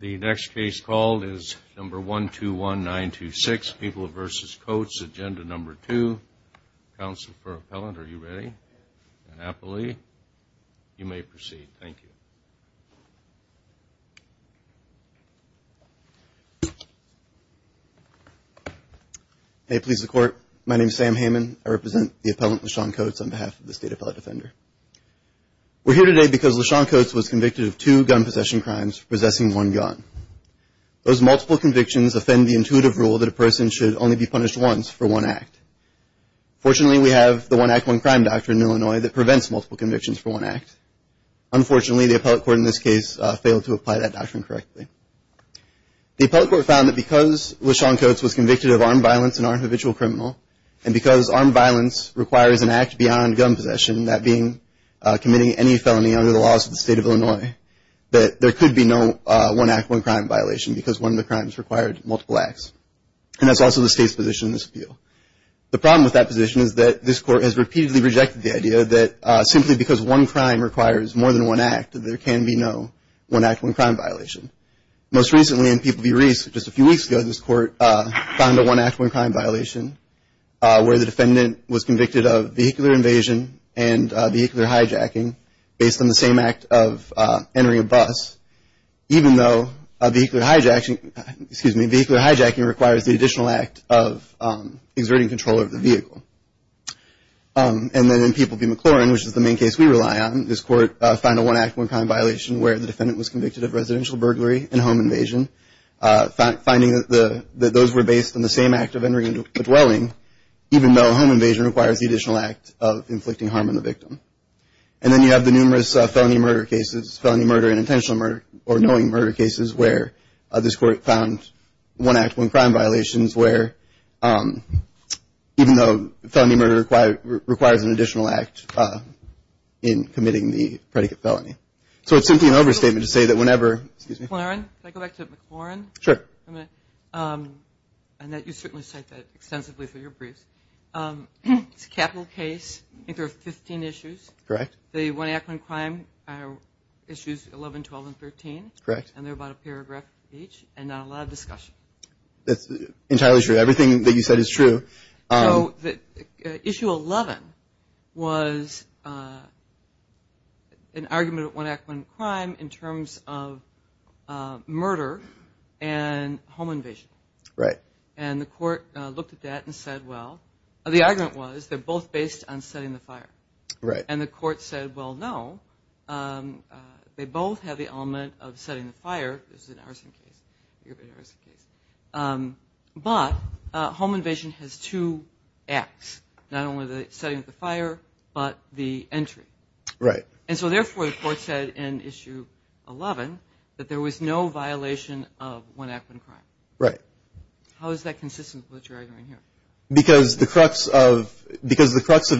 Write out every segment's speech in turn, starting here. The next case called is number 121926, People v. Coats, agenda number two. Counsel for appellant, are you ready? And appellee, you may proceed. Thank you. May it please the court, my name is Sam Heyman. I represent the appellant LaShawn Coats on behalf of the State Appellate Defender. We're here today because LaShawn Coats was convicted of two gun possession crimes for possessing one gun. Those multiple convictions offend the intuitive rule that a person should only be punished once for one act. Fortunately, we have the one act, one crime doctrine in Illinois that prevents multiple convictions for one act. Unfortunately, the appellate court in this case failed to apply that doctrine correctly. The appellate court found that because LaShawn Coats was convicted of armed violence and armed habitual criminal, and because armed violence requires an act beyond gun possession, that being committing any felony under the laws of the state of Illinois, that there could be no one act, one crime violation, because one of the crimes required multiple acts. And that's also the state's position in this appeal. The problem with that position is that this court has repeatedly rejected the idea that simply because one crime requires more than one act, there can be no one act, one crime violation. Most recently in People v. Reese, just a few weeks ago, this court found a one act, one crime violation where the defendant was convicted of vehicular invasion and vehicular hijacking based on the same act of entering a bus, even though vehicular hijacking requires the additional act of exerting control over the vehicle. And then in People v. McLaurin, which is the main case we rely on, this court found a one act, one crime violation where the defendant was convicted of residential burglary and home invasion, finding that those were based on the same act of entering the additional act of inflicting harm on the victim. And then you have the numerous felony murder cases, felony murder and intentional murder, or knowing murder cases where this court found one act, one crime violations where, even though felony murder requires an additional act in committing the predicate felony. So it's simply an overstatement to say that whenever, excuse me. McLaurin, can I go back to McLaurin? Sure. And that you certainly cite that extensively for your briefs. It's a capital case, I think there are 15 issues. Correct. The one act, one crime are issues 11, 12, and 13. Correct. And they're about a paragraph each and not a lot of discussion. That's entirely true. Everything that you said is true. So issue 11 was an argument at one act, one crime in terms of murder and home invasion. Right. And the court looked at that and said, the argument was they're both based on setting the fire. Right. And the court said, well, no. They both have the element of setting the fire. This is an arson case. But home invasion has two acts. Not only the setting of the fire, but the entry. Right. And so therefore, the court said in issue 11 that there was no violation of one act, one crime. Right. How is that consistent with what you're arguing here? Because the crux of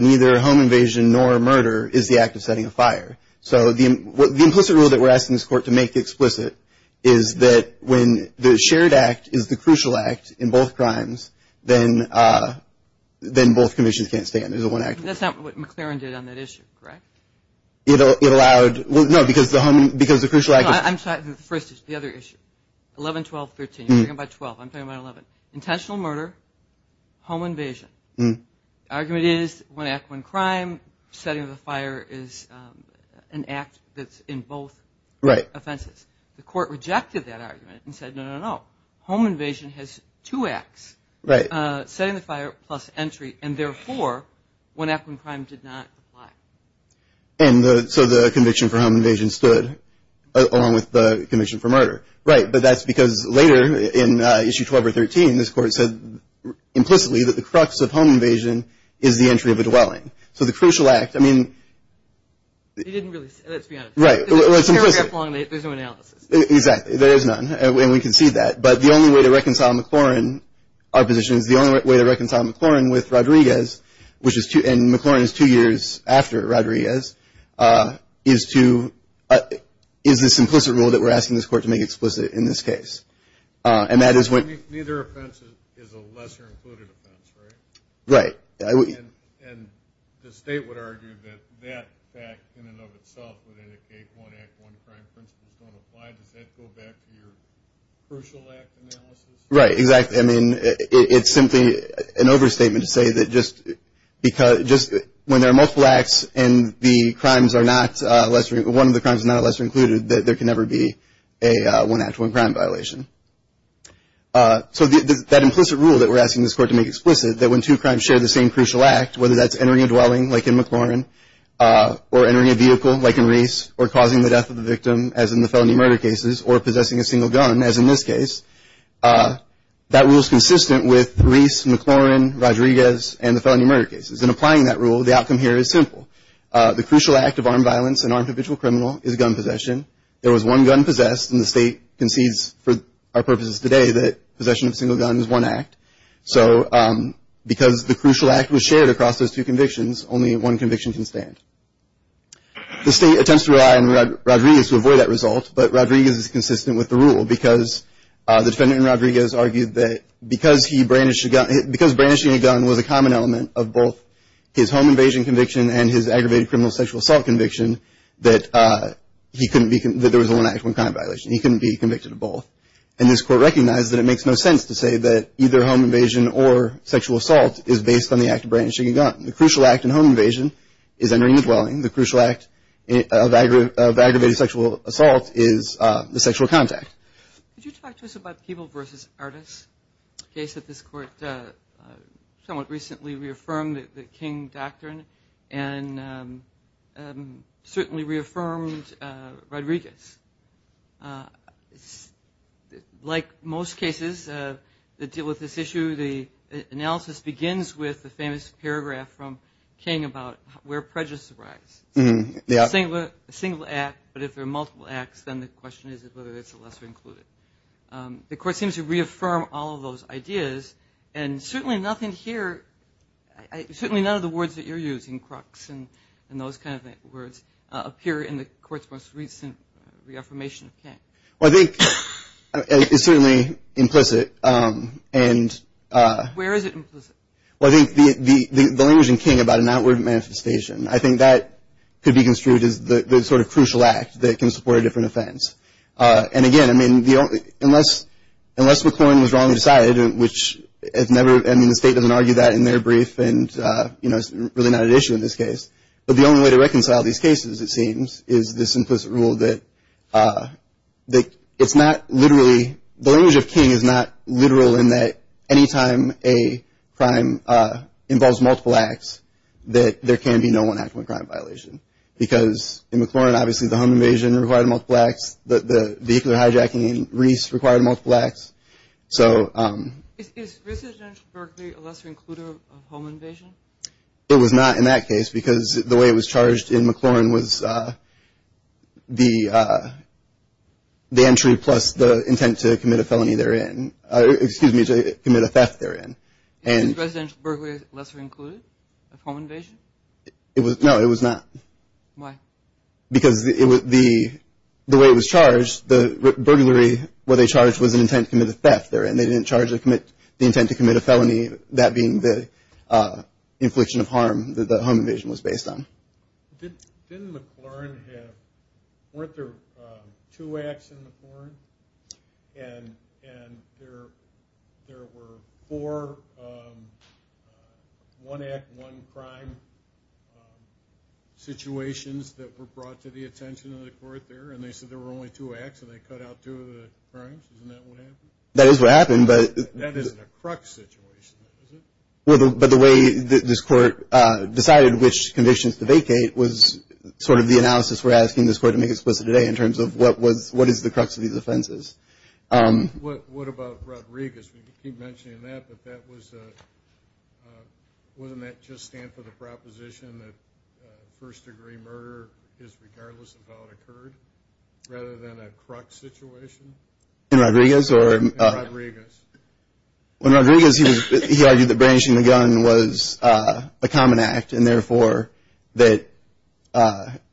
neither home invasion nor murder is the act of setting a fire. So the implicit rule that we're asking this court to make explicit is that when the shared act is the crucial act in both crimes, then both commissions can't stand. There's a one act rule. That's not what McLaren did on that issue, correct? It allowed, well, no, because the home, because the crucial act. I'm sorry, the first issue, the other issue. 11, 12, 13, you're talking about 12. I'm talking about 11. Intentional murder, home invasion. Argument is one act, one crime. Setting of the fire is an act that's in both offenses. The court rejected that argument and said, no, no, no. Home invasion has two acts. Right. Setting the fire plus entry, and therefore, one act, one crime did not apply. And so the conviction for home invasion stood along with the conviction for murder. Right, but that's because later in issue 12 or 13, this court said implicitly that the crux of home invasion is the entry of a dwelling. So the crucial act, I mean. He didn't really, let's be honest. Right, well, it's implicit. There's no analysis. Exactly, there is none, and we can see that. But the only way to reconcile McLaren, our position is the only way to reconcile McLaren with Rodriguez, which is two, and McLaren is two years after Rodriguez, is to, is this implicit rule that we're asking this court to make explicit in this case? And that is when. Neither offense is a lesser included offense, right? Right. And the state would argue that that fact in and of itself would indicate one act, one crime principle is gonna apply. Does that go back to your crucial act analysis? Right, exactly. I mean, it's simply an overstatement to say that just because, just when there are multiple acts and the crimes are not lesser, one of the crimes is not lesser included, that there can never be a one act, one crime violation. So that implicit rule that we're asking this court to make explicit, that when two crimes share the same crucial act, whether that's entering a dwelling, like in McLaren, or entering a vehicle, like in Reese, or causing the death of the victim, as in the felony murder cases, or possessing a single gun, as in this case, that rule's consistent with Reese, McLaren, Rodriguez, and the felony murder cases. In applying that rule, the outcome here is simple. The crucial act of armed violence and armed habitual criminal is gun possession. There was one gun possessed, and the state concedes, for our purposes today, that possession of a single gun is one act. So because the crucial act was shared across those two convictions, only one conviction can stand. The state attempts to rely on Rodriguez to avoid that result, but Rodriguez is consistent with the rule because the defendant in Rodriguez argued that because brandishing a gun was a common element of both his home invasion conviction and his aggravated criminal sexual assault conviction that there was only one actual gun violation. He couldn't be convicted of both. And this court recognized that it makes no sense to say that either home invasion or sexual assault is based on the act of brandishing a gun. The crucial act in home invasion is entering the dwelling. The crucial act of aggravated sexual assault is the sexual contact. Could you talk to us about Keeble versus Artis, a case that this court somewhat recently reaffirmed, the King Doctrine, and certainly reaffirmed Rodriguez. Like most cases that deal with this issue, the analysis begins with the famous paragraph from King about where prejudice arise. A single act, but if there are multiple acts, then the question is whether it's a lesser included. The court seems to reaffirm all of those ideas, and certainly nothing here, certainly none of the words that you're using, crux and those kind of words, appear in the court's most recent reaffirmation of King. Well, I think it's certainly implicit, and... Where is it implicit? Well, I think the language in King about an outward manifestation, I think that could be construed as the sort of crucial act that can support a different offense. And again, I mean, unless McClellan was wrongly decided, which has never, I mean, the state doesn't argue that in their brief, and it's really not an issue in this case. But the only way to reconcile these cases, it seems, is this implicit rule that it's not literally, the language of King is not literal in that any time a crime involves multiple acts, that there can be no one actual crime violation. Because in McClellan, obviously the home invasion required multiple acts, the vehicular hijacking in Reese required multiple acts. So... Is residential burglary a lesser includer of home invasion? It was not in that case, because the way it was charged in McClellan was the entry, plus the intent to commit a felony therein, excuse me, to commit a theft therein. And... Is residential burglary lesser included of home invasion? It was, no, it was not. Why? Because the way it was charged, the burglary where they charged was an intent to commit a theft therein. They didn't charge the intent to commit a felony, that being the infliction of harm that the home invasion was based on. Didn't McClellan have, weren't there two acts in McClellan? And there were four, one act, one crime situations that were brought to the attention of the court there, and they said there were only two acts, and they cut out two of the crimes. Isn't that what happened? That is what happened, but... That isn't a crux situation, is it? But the way this court decided which conditions to vacate was sort of the analysis we're asking this court to make explicit today, in terms of what is the crux of these offenses. What about Rodriguez? We keep mentioning that, but wasn't that just stand for the proposition that first degree murder is regardless of how it occurred, rather than a crux situation? In Rodriguez, or? In Rodriguez. When Rodriguez, he argued that brandishing the gun was a common act, and therefore that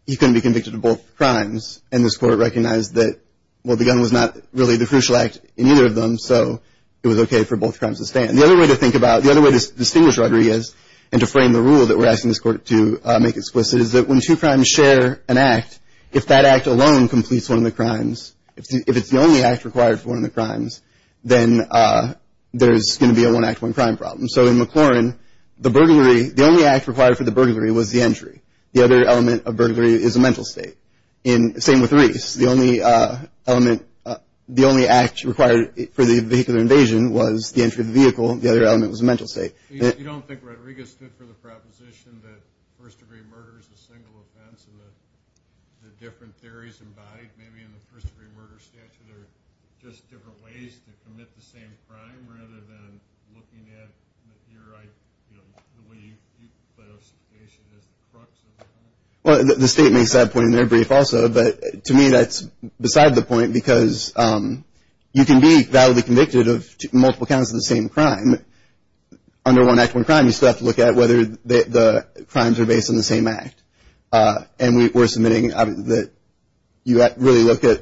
he couldn't be convicted of both crimes, and this court recognized that, well, the gun was not really the crucial act in either of them, so it was okay for both crimes to stand. The other way to think about, the other way to distinguish Rodriguez, and to frame the rule that we're asking this court to make explicit, is that when two crimes share an act, if that act alone completes one of the crimes, if it's the only act required for one of the crimes, then there's gonna be a one act, one crime problem. So in McLaurin, the only act required for the burglary was the entry. The other element of burglary is a mental state. Same with Reese. The only act required for the vehicular invasion was the entry of the vehicle. The other element was a mental state. You don't think Rodriguez stood for the proposition that first degree murder is a single offense, and the different theories embodied, maybe in the first degree murder statute, are just different ways to commit the same crime, rather than looking at your, the way you play those situations as the crux of the crime? Well, the state makes that point in their brief also, but to me, that's beside the point, because you can be validly convicted of multiple counts of the same crime. Under one act, one crime, you still have to look at whether the crimes are based on the same act. And we're submitting that you really look at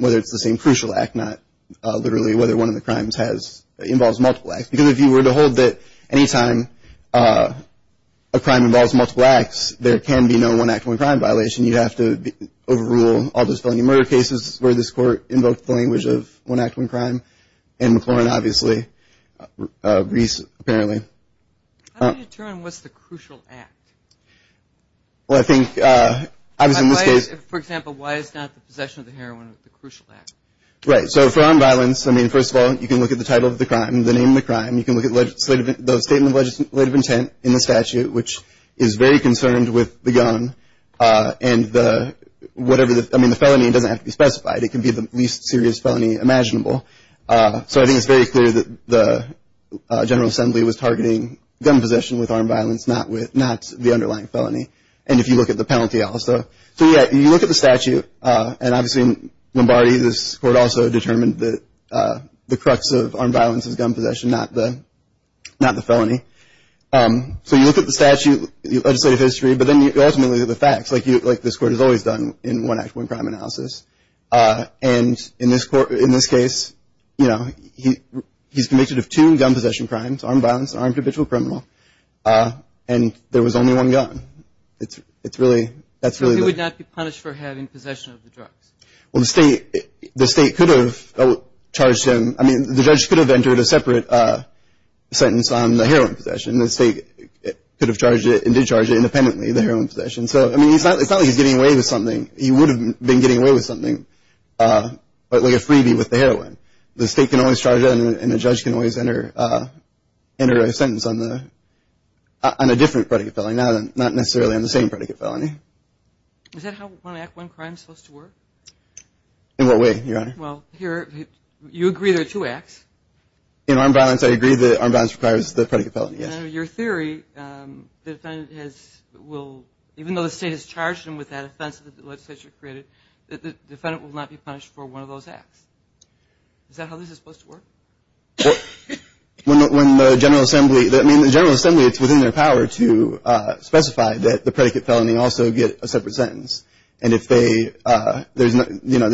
whether it's the same crucial act, not literally whether one of the crimes involves multiple acts. Because if you were to hold that any time a crime involves multiple acts, there can be no one act, one crime violation. You'd have to overrule all dispelling of murder cases where this court invoked the language of one act, one crime. In McLaurin, obviously, Reese, apparently. How do you determine what's the crucial act? Well, I think, obviously in this case- For example, why is not the possession of the heroin the crucial act? Right, so for armed violence, I mean, first of all, you can look at the title of the crime, the name of the crime. You can look at the statement of legislative intent in the statute, which is very concerned with the gun and the, whatever the, I mean, the felony doesn't have to be specified. It can be the least serious felony imaginable. So I think it's very clear that the General Assembly was targeting gun possession with armed violence, not the underlying felony. And if you look at the penalty also. So yeah, you look at the statute, and obviously in Lombardi, this court also determined that the crux of armed violence is gun possession, not the felony. So you look at the statute, legislative history, but then you ultimately look at the facts, like this court has always done in one act, one crime analysis. And in this case, he's convicted of two gun possession crimes, armed violence and armed habitual criminal. And there was only one gun. It's really, that's really the- So he would not be punished for having possession of the drugs? Well, the state could have charged him. I mean, the judge could have entered a separate sentence on the heroin possession. The state could have charged it and did charge it independently, the heroin possession. So, I mean, it's not like he's getting away with something. He would have been getting away with something, but like a freebie with the heroin. The state can always charge it and a judge can always enter a sentence on a different predicate felony, not necessarily on the same predicate felony. Is that how one act, one crime is supposed to work? In what way, Your Honor? Well, here, you agree there are two acts. In armed violence, I agree that armed violence requires the predicate felony, yes. Your theory, the defendant has, will, even though the state has charged him with that offense that the legislature created, the defendant will not be punished for one of those acts. Is that how this is supposed to work? Well, when the General Assembly, I mean, the General Assembly, it's within their power to specify that the predicate felony also get a separate sentence. And if they, you know,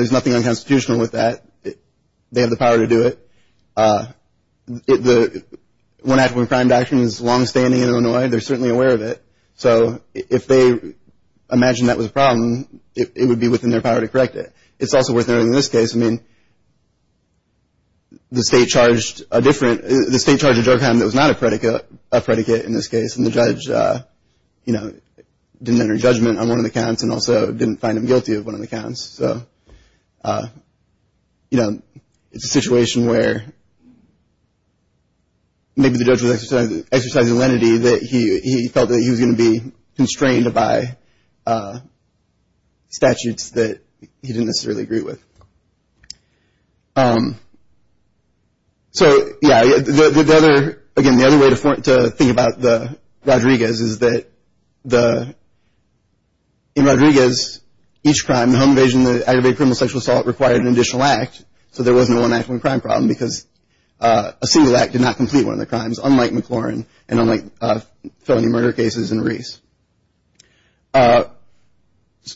there's nothing unconstitutional with that. They have the power to do it. One act, one crime doctrine is longstanding in Illinois. They're certainly aware of it. So, if they imagine that was a problem, it would be within their power to correct it. It's also worth noting in this case, I mean, the state charged a different, the state charged a drug count that was not a predicate in this case, and the judge, you know, didn't enter judgment on one of the counts and also didn't find him guilty of one of the counts. So, you know, it's a situation where maybe the judge was exercising lenity that he felt that he was gonna be constrained by statutes that he didn't necessarily agree with. So, yeah, the other, again, the other way to think about the Rodriguez is that the, in Rodriguez, each crime, the home invasion, the aggravated criminal sexual assault required an additional act. So, there wasn't a one act, one crime problem because a single act did not complete one of the crimes, unlike McLaurin and unlike felony murder cases in Reese.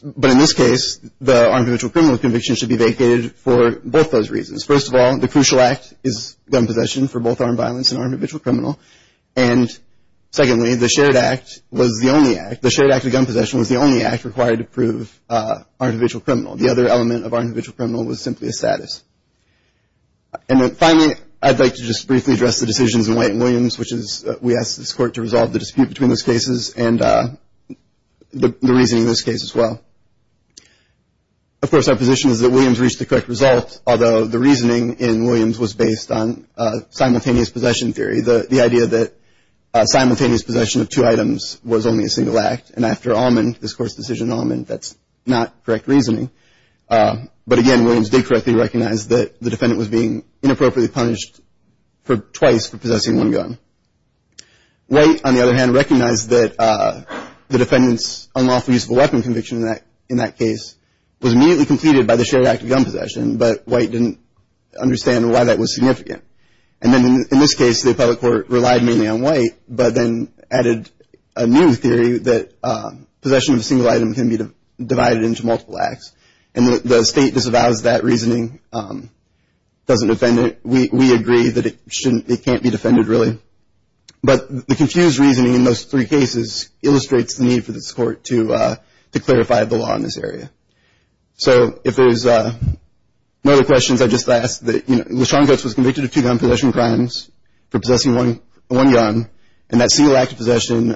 But in this case, the unconventional criminal conviction should be vacated for both those reasons. First of all, the crucial act is gun possession for both armed violence and armed individual criminal. And secondly, the shared act was the only act, the shared act of gun possession was the only act required to prove our individual criminal. The other element of our individual criminal was simply a status. And then finally, I'd like to just briefly address the decisions in White and Williams, which is we asked this court to resolve the dispute between those cases and the reasoning in this case as well. Of course, our position is that Williams reached the correct result, although the reasoning in Williams was based on simultaneous possession theory. The idea that simultaneous possession of two items was only a single act and after Allman, this court's decision in Allman, that's not correct reasoning. But again, Williams did correctly recognize that the defendant was being inappropriately punished for twice for possessing one gun. White, on the other hand, recognized that the defendant's unlawful use of a weapon conviction in that case was immediately completed by the shared act of gun possession, but White didn't understand why that was significant. And then in this case, the appellate court relied mainly on White, but then added a new theory that possession of a single item can be divided into multiple acts. And the state disavows that reasoning, doesn't defend it. We agree that it can't be defended, really. But the confused reasoning in those three cases illustrates the need for this court to clarify the law in this area. So if there's no other questions, I'd just ask that, you know, Lashawn Coates was convicted of two gun possession crimes for possessing one gun. And that single act of possession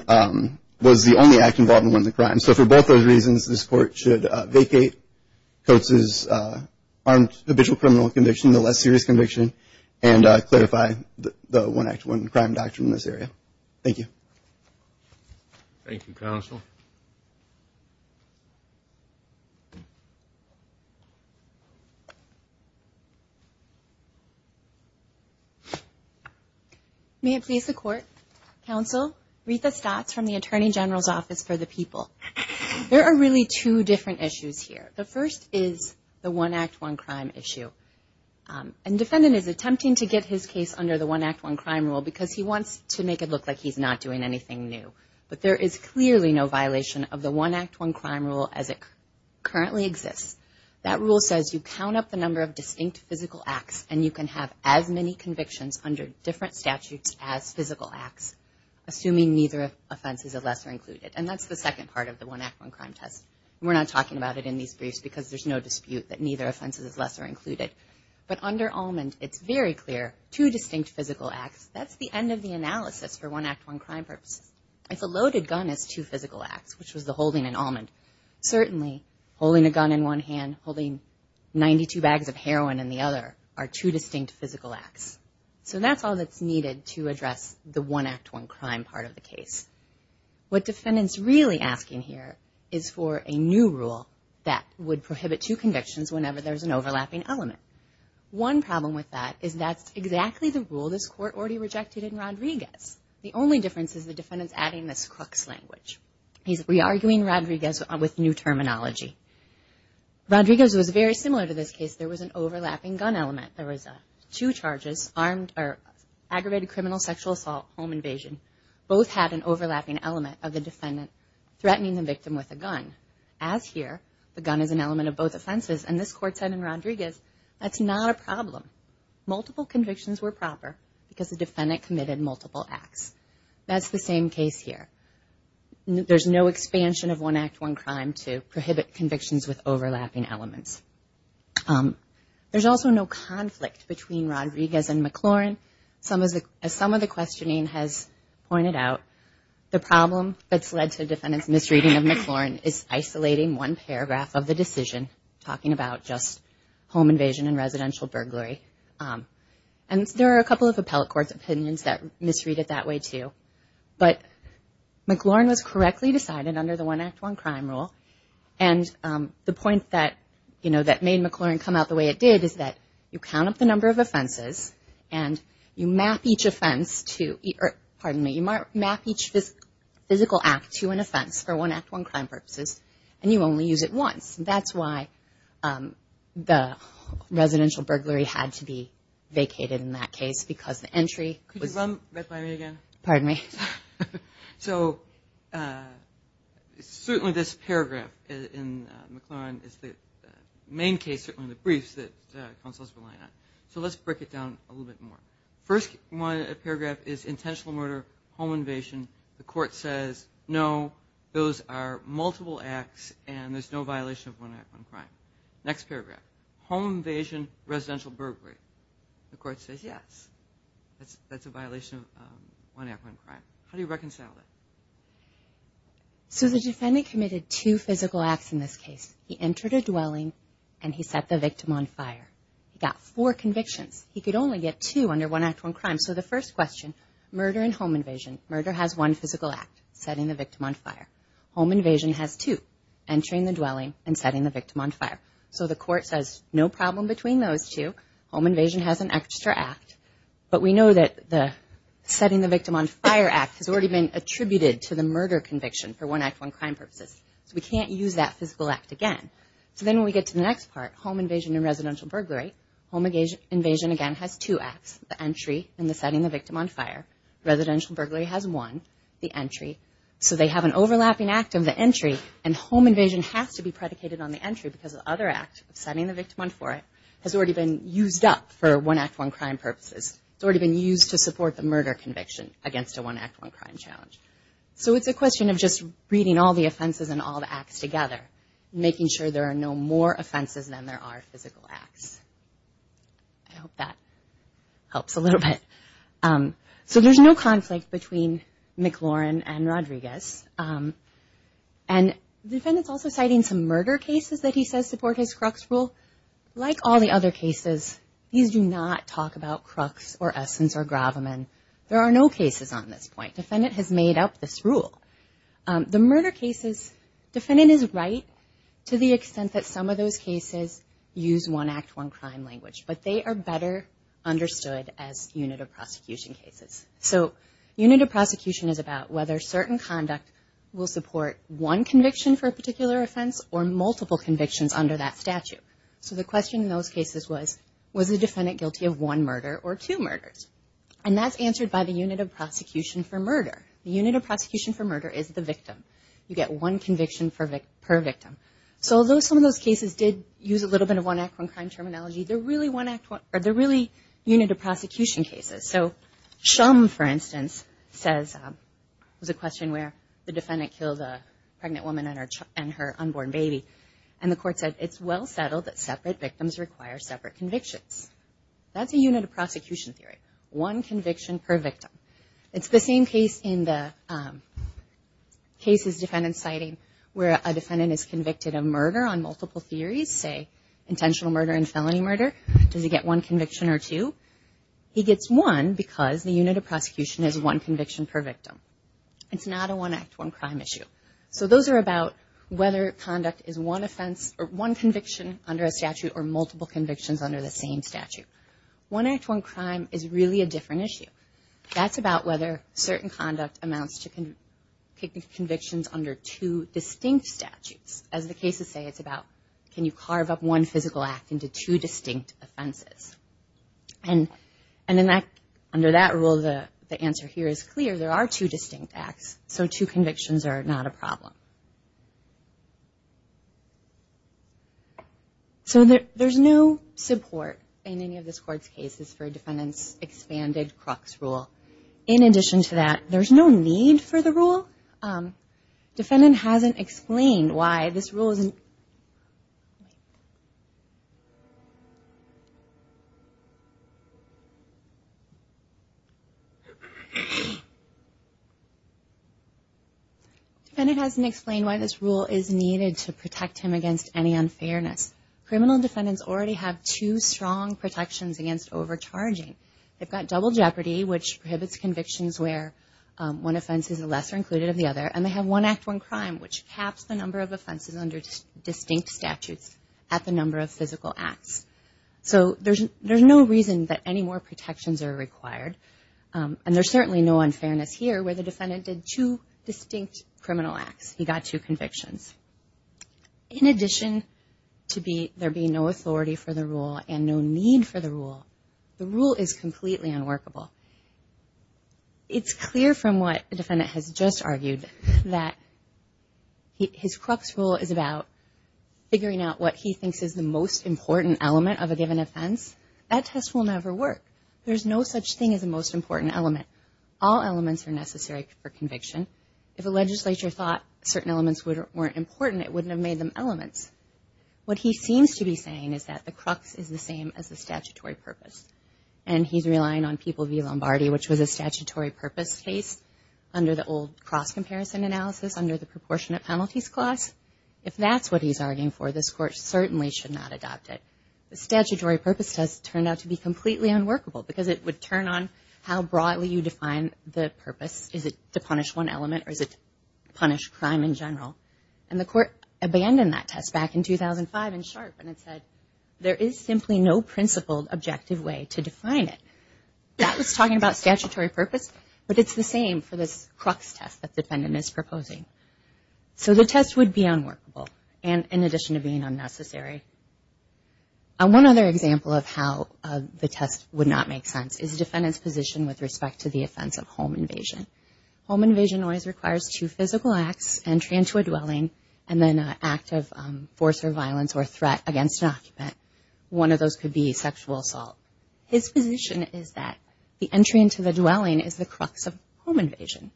was the only act involved in one of the crimes. So for both those reasons, this court should vacate Coates' armed habitual criminal conviction, the less serious conviction, and clarify the one act, one crime doctrine in this area. Thank you. Thank you, counsel. May it please the court. Counsel, Rita Stotts from the Attorney General's Office for the People. There are really two different issues here. The first is the one act, one crime issue. And defendant is attempting to get his case under the one act, one crime rule because he wants to make it look like he's not doing anything new. But there is clearly no violation of the one act, one crime rule as it currently exists. That rule says you count up the number of distinct physical acts, and you can have as many convictions under different statutes as physical acts, assuming neither offense is a lesser included. And that's the second part of the one act, one crime test. We're not talking about it in these briefs because there's no dispute that neither offense is lesser included. But under Allman, it's very clear, two distinct physical acts, that's the end of the analysis for one act, one crime purposes. If a loaded gun is two physical acts, which was the holding in Allman, certainly holding a gun in one hand, holding 92 bags of heroin in the other, are two distinct physical acts. So that's all that's needed to address the one act, one crime part of the case. What defendant's really asking here is for a new rule that would prohibit two convictions whenever there's an overlapping element. One problem with that is that's exactly the rule this court already rejected in Rodriguez. The only difference is the defendant's adding this Crooks language. He's re-arguing Rodriguez with new terminology. Rodriguez was very similar to this case. There was an overlapping gun element. There was two charges, armed or aggravated criminal sexual assault, home invasion. Both had an overlapping element of the defendant threatening the victim with a gun. As here, the gun is an element of both offenses. And this court said in Rodriguez, that's not a problem. Multiple convictions were proper because the defendant committed multiple acts. That's the same case here. There's no expansion of one act, one crime to prohibit convictions with overlapping elements. There's also no conflict between Rodriguez and McLaurin. Some of the questioning has pointed out the problem that's led to defendant's misreading of McLaurin is isolating one paragraph of the decision talking about just home invasion and residential burglary. And there are a couple of appellate court's opinions that misread it that way too. But McLaurin was correctly decided under the one act, one crime rule. And the point that made McLaurin come out the way it did is that you count up the number of offenses and you map each offense to, pardon me, you map each physical act to an offense for one act, one crime purposes. And you only use it once. And that's why the residential burglary had to be vacated in that case because the entry was- Could you run right by me again? Pardon me. So certainly this paragraph in McLaurin is the main case, certainly the briefs that counsel's relying on. So let's break it down a little bit more. First paragraph is intentional murder, home invasion. The court says, no, those are multiple acts and there's no violation of one act, one crime. Next paragraph, home invasion, residential burglary. The court says, yes, that's a violation of one act, one crime. How do you reconcile that? So the defendant committed two physical acts in this case. He entered a dwelling and he set the victim on fire. He got four convictions. He could only get two under one act, one crime. So the first question, murder and home invasion. Murder has one physical act, setting the victim on fire. Home invasion has two, entering the dwelling and setting the victim on fire. So the court says, no problem between those two. Home invasion has an extra act. But we know that the setting the victim on fire act has already been attributed to the murder conviction for one act, one crime purposes. So we can't use that physical act again. So then when we get to the next part, home invasion and residential burglary, home invasion again has two acts, the entry and the setting the victim on fire. Residential burglary has one, the entry. So they have an overlapping act of the entry and home invasion has to be predicated on the entry because the other act of setting the victim on fire has already been used up for one act, one crime purposes. It's already been used to support the murder conviction against a one act, one crime challenge. So it's a question of just reading all the offenses and all the acts together, making sure there are no more offenses than there are physical acts. I hope that helps a little bit. So there's no conflict between McLaurin and Rodriguez. And the defendant's also citing some murder cases that he says support his Crux rule. Like all the other cases, these do not talk about Crux or Essence or Graviman. There are no cases on this point. Defendant has made up this rule. The murder cases, defendant is right to the extent that some of those cases use one act, one crime language, but they are better understood as unit of prosecution cases. So unit of prosecution is about whether certain conduct will support one conviction for a particular offense or multiple convictions under that statute. So the question in those cases was, was the defendant guilty of one murder or two murders? And that's answered by the unit of prosecution for murder. The unit of prosecution for murder is the victim. You get one conviction per victim. So although some of those cases did use a little bit of one act, one crime terminology, they're really unit of prosecution cases. So Shum, for instance, says, was a question where the defendant killed a pregnant woman and her unborn baby. And the court said, it's well settled that separate victims require separate convictions. That's a unit of prosecution theory. One conviction per victim. It's the same case in the case's defendant citing where a defendant is convicted of murder on multiple theories, say intentional murder and felony murder. Does he get one conviction or two? He gets one because the unit of prosecution is one conviction per victim. It's not a one act, one crime issue. So those are about whether conduct is one offense or one conviction under a statute or multiple convictions under the same statute. One act, one crime is really a different issue. That's about whether certain conduct amounts to convictions under two distinct statutes. As the cases say, it's about, can you carve up one physical act into two distinct offenses? And under that rule, the answer here is clear. There are two distinct acts. So two convictions are not a problem. So there's no support in any of this court's cases for a defendant's expanded crux rule. In addition to that, there's no need for the rule. Defendant hasn't explained why this rule wasn't... Defendant hasn't explained why this rule is needed to protect him against any unfairness. Criminal defendants already have two strong protections against overcharging. They've got double jeopardy, which prohibits convictions where one offense is a lesser included of the other, and they have one act, one crime, which caps the number of offenses under distinct statutes at the number of physical acts. So there's no reason that any more protections are required. And there's certainly no unfairness here where the defendant did two distinct criminal acts. He got two convictions. In addition to there being no authority for the rule and no need for the rule, the rule is completely unworkable. It's clear from what the defendant has just argued that his crux rule is about figuring out what he thinks is the most important element of a given offense. That test will never work. There's no such thing as a most important element. All elements are necessary for conviction. If a legislature thought certain elements weren't important, it wouldn't have made them elements. What he seems to be saying is that the crux is the same as the statutory purpose. And he's relying on people v. Lombardi, which was a statutory purpose case under the old cross-comparison analysis under the proportionate penalties clause. If that's what he's arguing for, this court certainly should not adopt it. The statutory purpose test turned out to be completely unworkable because it would turn on how broadly you define the purpose. Is it to punish one element or is it to punish crime in general? And the court abandoned that test back in 2005 in Sharpe and it said there is simply no principled, objective way to define it. That was talking about statutory purpose, but it's the same for this crux test that the defendant is proposing. So the test would be unworkable and in addition to being unnecessary. One other example of how the test would not make sense is the defendant's position with respect to the offense of home invasion. Home invasion always requires two physical acts, entry into a dwelling, and then an act of force or violence or threat against an occupant. One of those could be sexual assault. His position is that the entry into the dwelling is the crux of home invasion.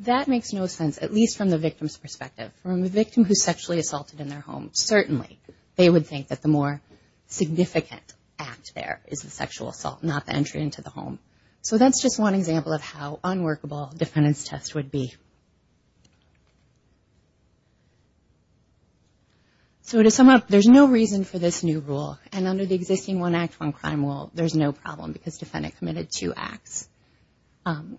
That makes no sense, at least from the victim's perspective. From the victim who's sexually assaulted in their home, certainly they would think that the more significant act there is the sexual assault, not the entry into the home. So that's just one example of how unworkable defendant's test would be. So to sum up, there's no reason for this new rule and under the existing One Act, One Crime rule, there's no problem because defendant committed two acts. Oh,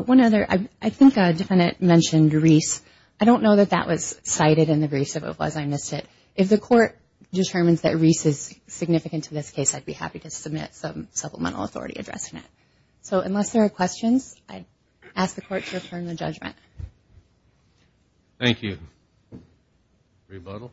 one other, I think a defendant mentioned Reese. I don't know that that was cited in the briefs of it was, I missed it. If the court determines that Reese is significant to this case, I'd be happy to submit some supplemental authority addressing it. I'd ask the court to affirm the judgment. Thank you. Rebuttal.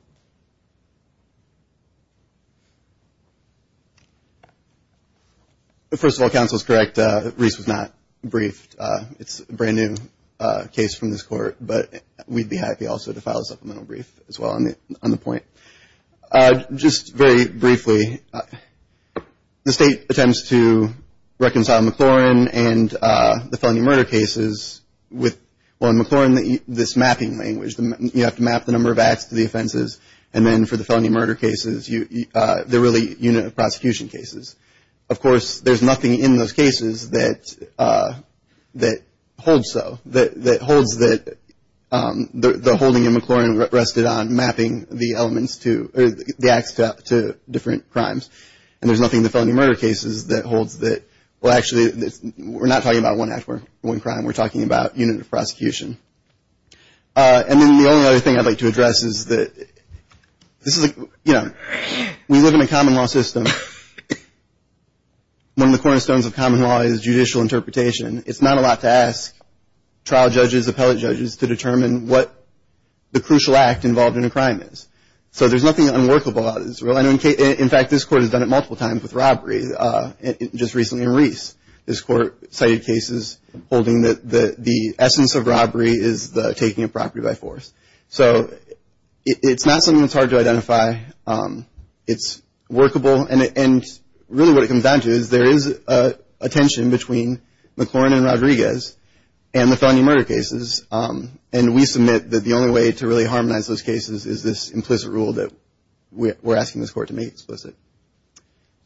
First of all, counsel's correct, Reese was not briefed. It's a brand new case from this court, but we'd be happy also to file a supplemental brief as well on the point. Just very briefly, the state attempts to reconcile the Maclaurin and the felony murder cases with, well, in Maclaurin, this mapping language, you have to map the number of acts to the offenses and then for the felony murder cases, they're really unit of prosecution cases. Of course, there's nothing in those cases that holds so, that holds that the holding in Maclaurin rested on mapping the elements to, the acts to different crimes. And there's nothing in the felony murder cases that holds that, well, actually, we're not talking about one act or one crime, we're talking about unit of prosecution. And then the only other thing I'd like to address is that this is, you know, we live in a common law system. One of the cornerstones of common law is judicial interpretation. It's not a lot to ask trial judges, appellate judges, to determine what the crucial act involved in a crime is. So there's nothing unworkable about this. In fact, this court has done it multiple times with robbery, just recently in Reese. This court cited cases holding that the essence of robbery is the taking of property by force. So it's not something that's hard to identify. It's workable and really what it comes down to is there is a tension between Maclaurin and Rodriguez and the felony murder cases. And we submit that the only way to really harmonize those cases is this implicit rule that we're asking this court to make explicit.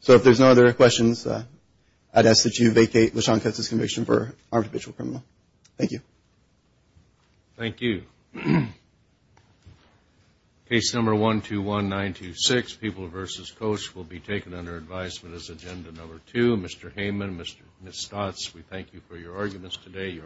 So if there's no other questions, I'd ask that you vacate LaShon Kessler's conviction for armed habitual criminal. Thank you. Thank you. Case number 121926, People v. Coach will be taken under advisement as agenda number two. Mr. Heyman, Ms. Stotz, we thank you for your arguments today.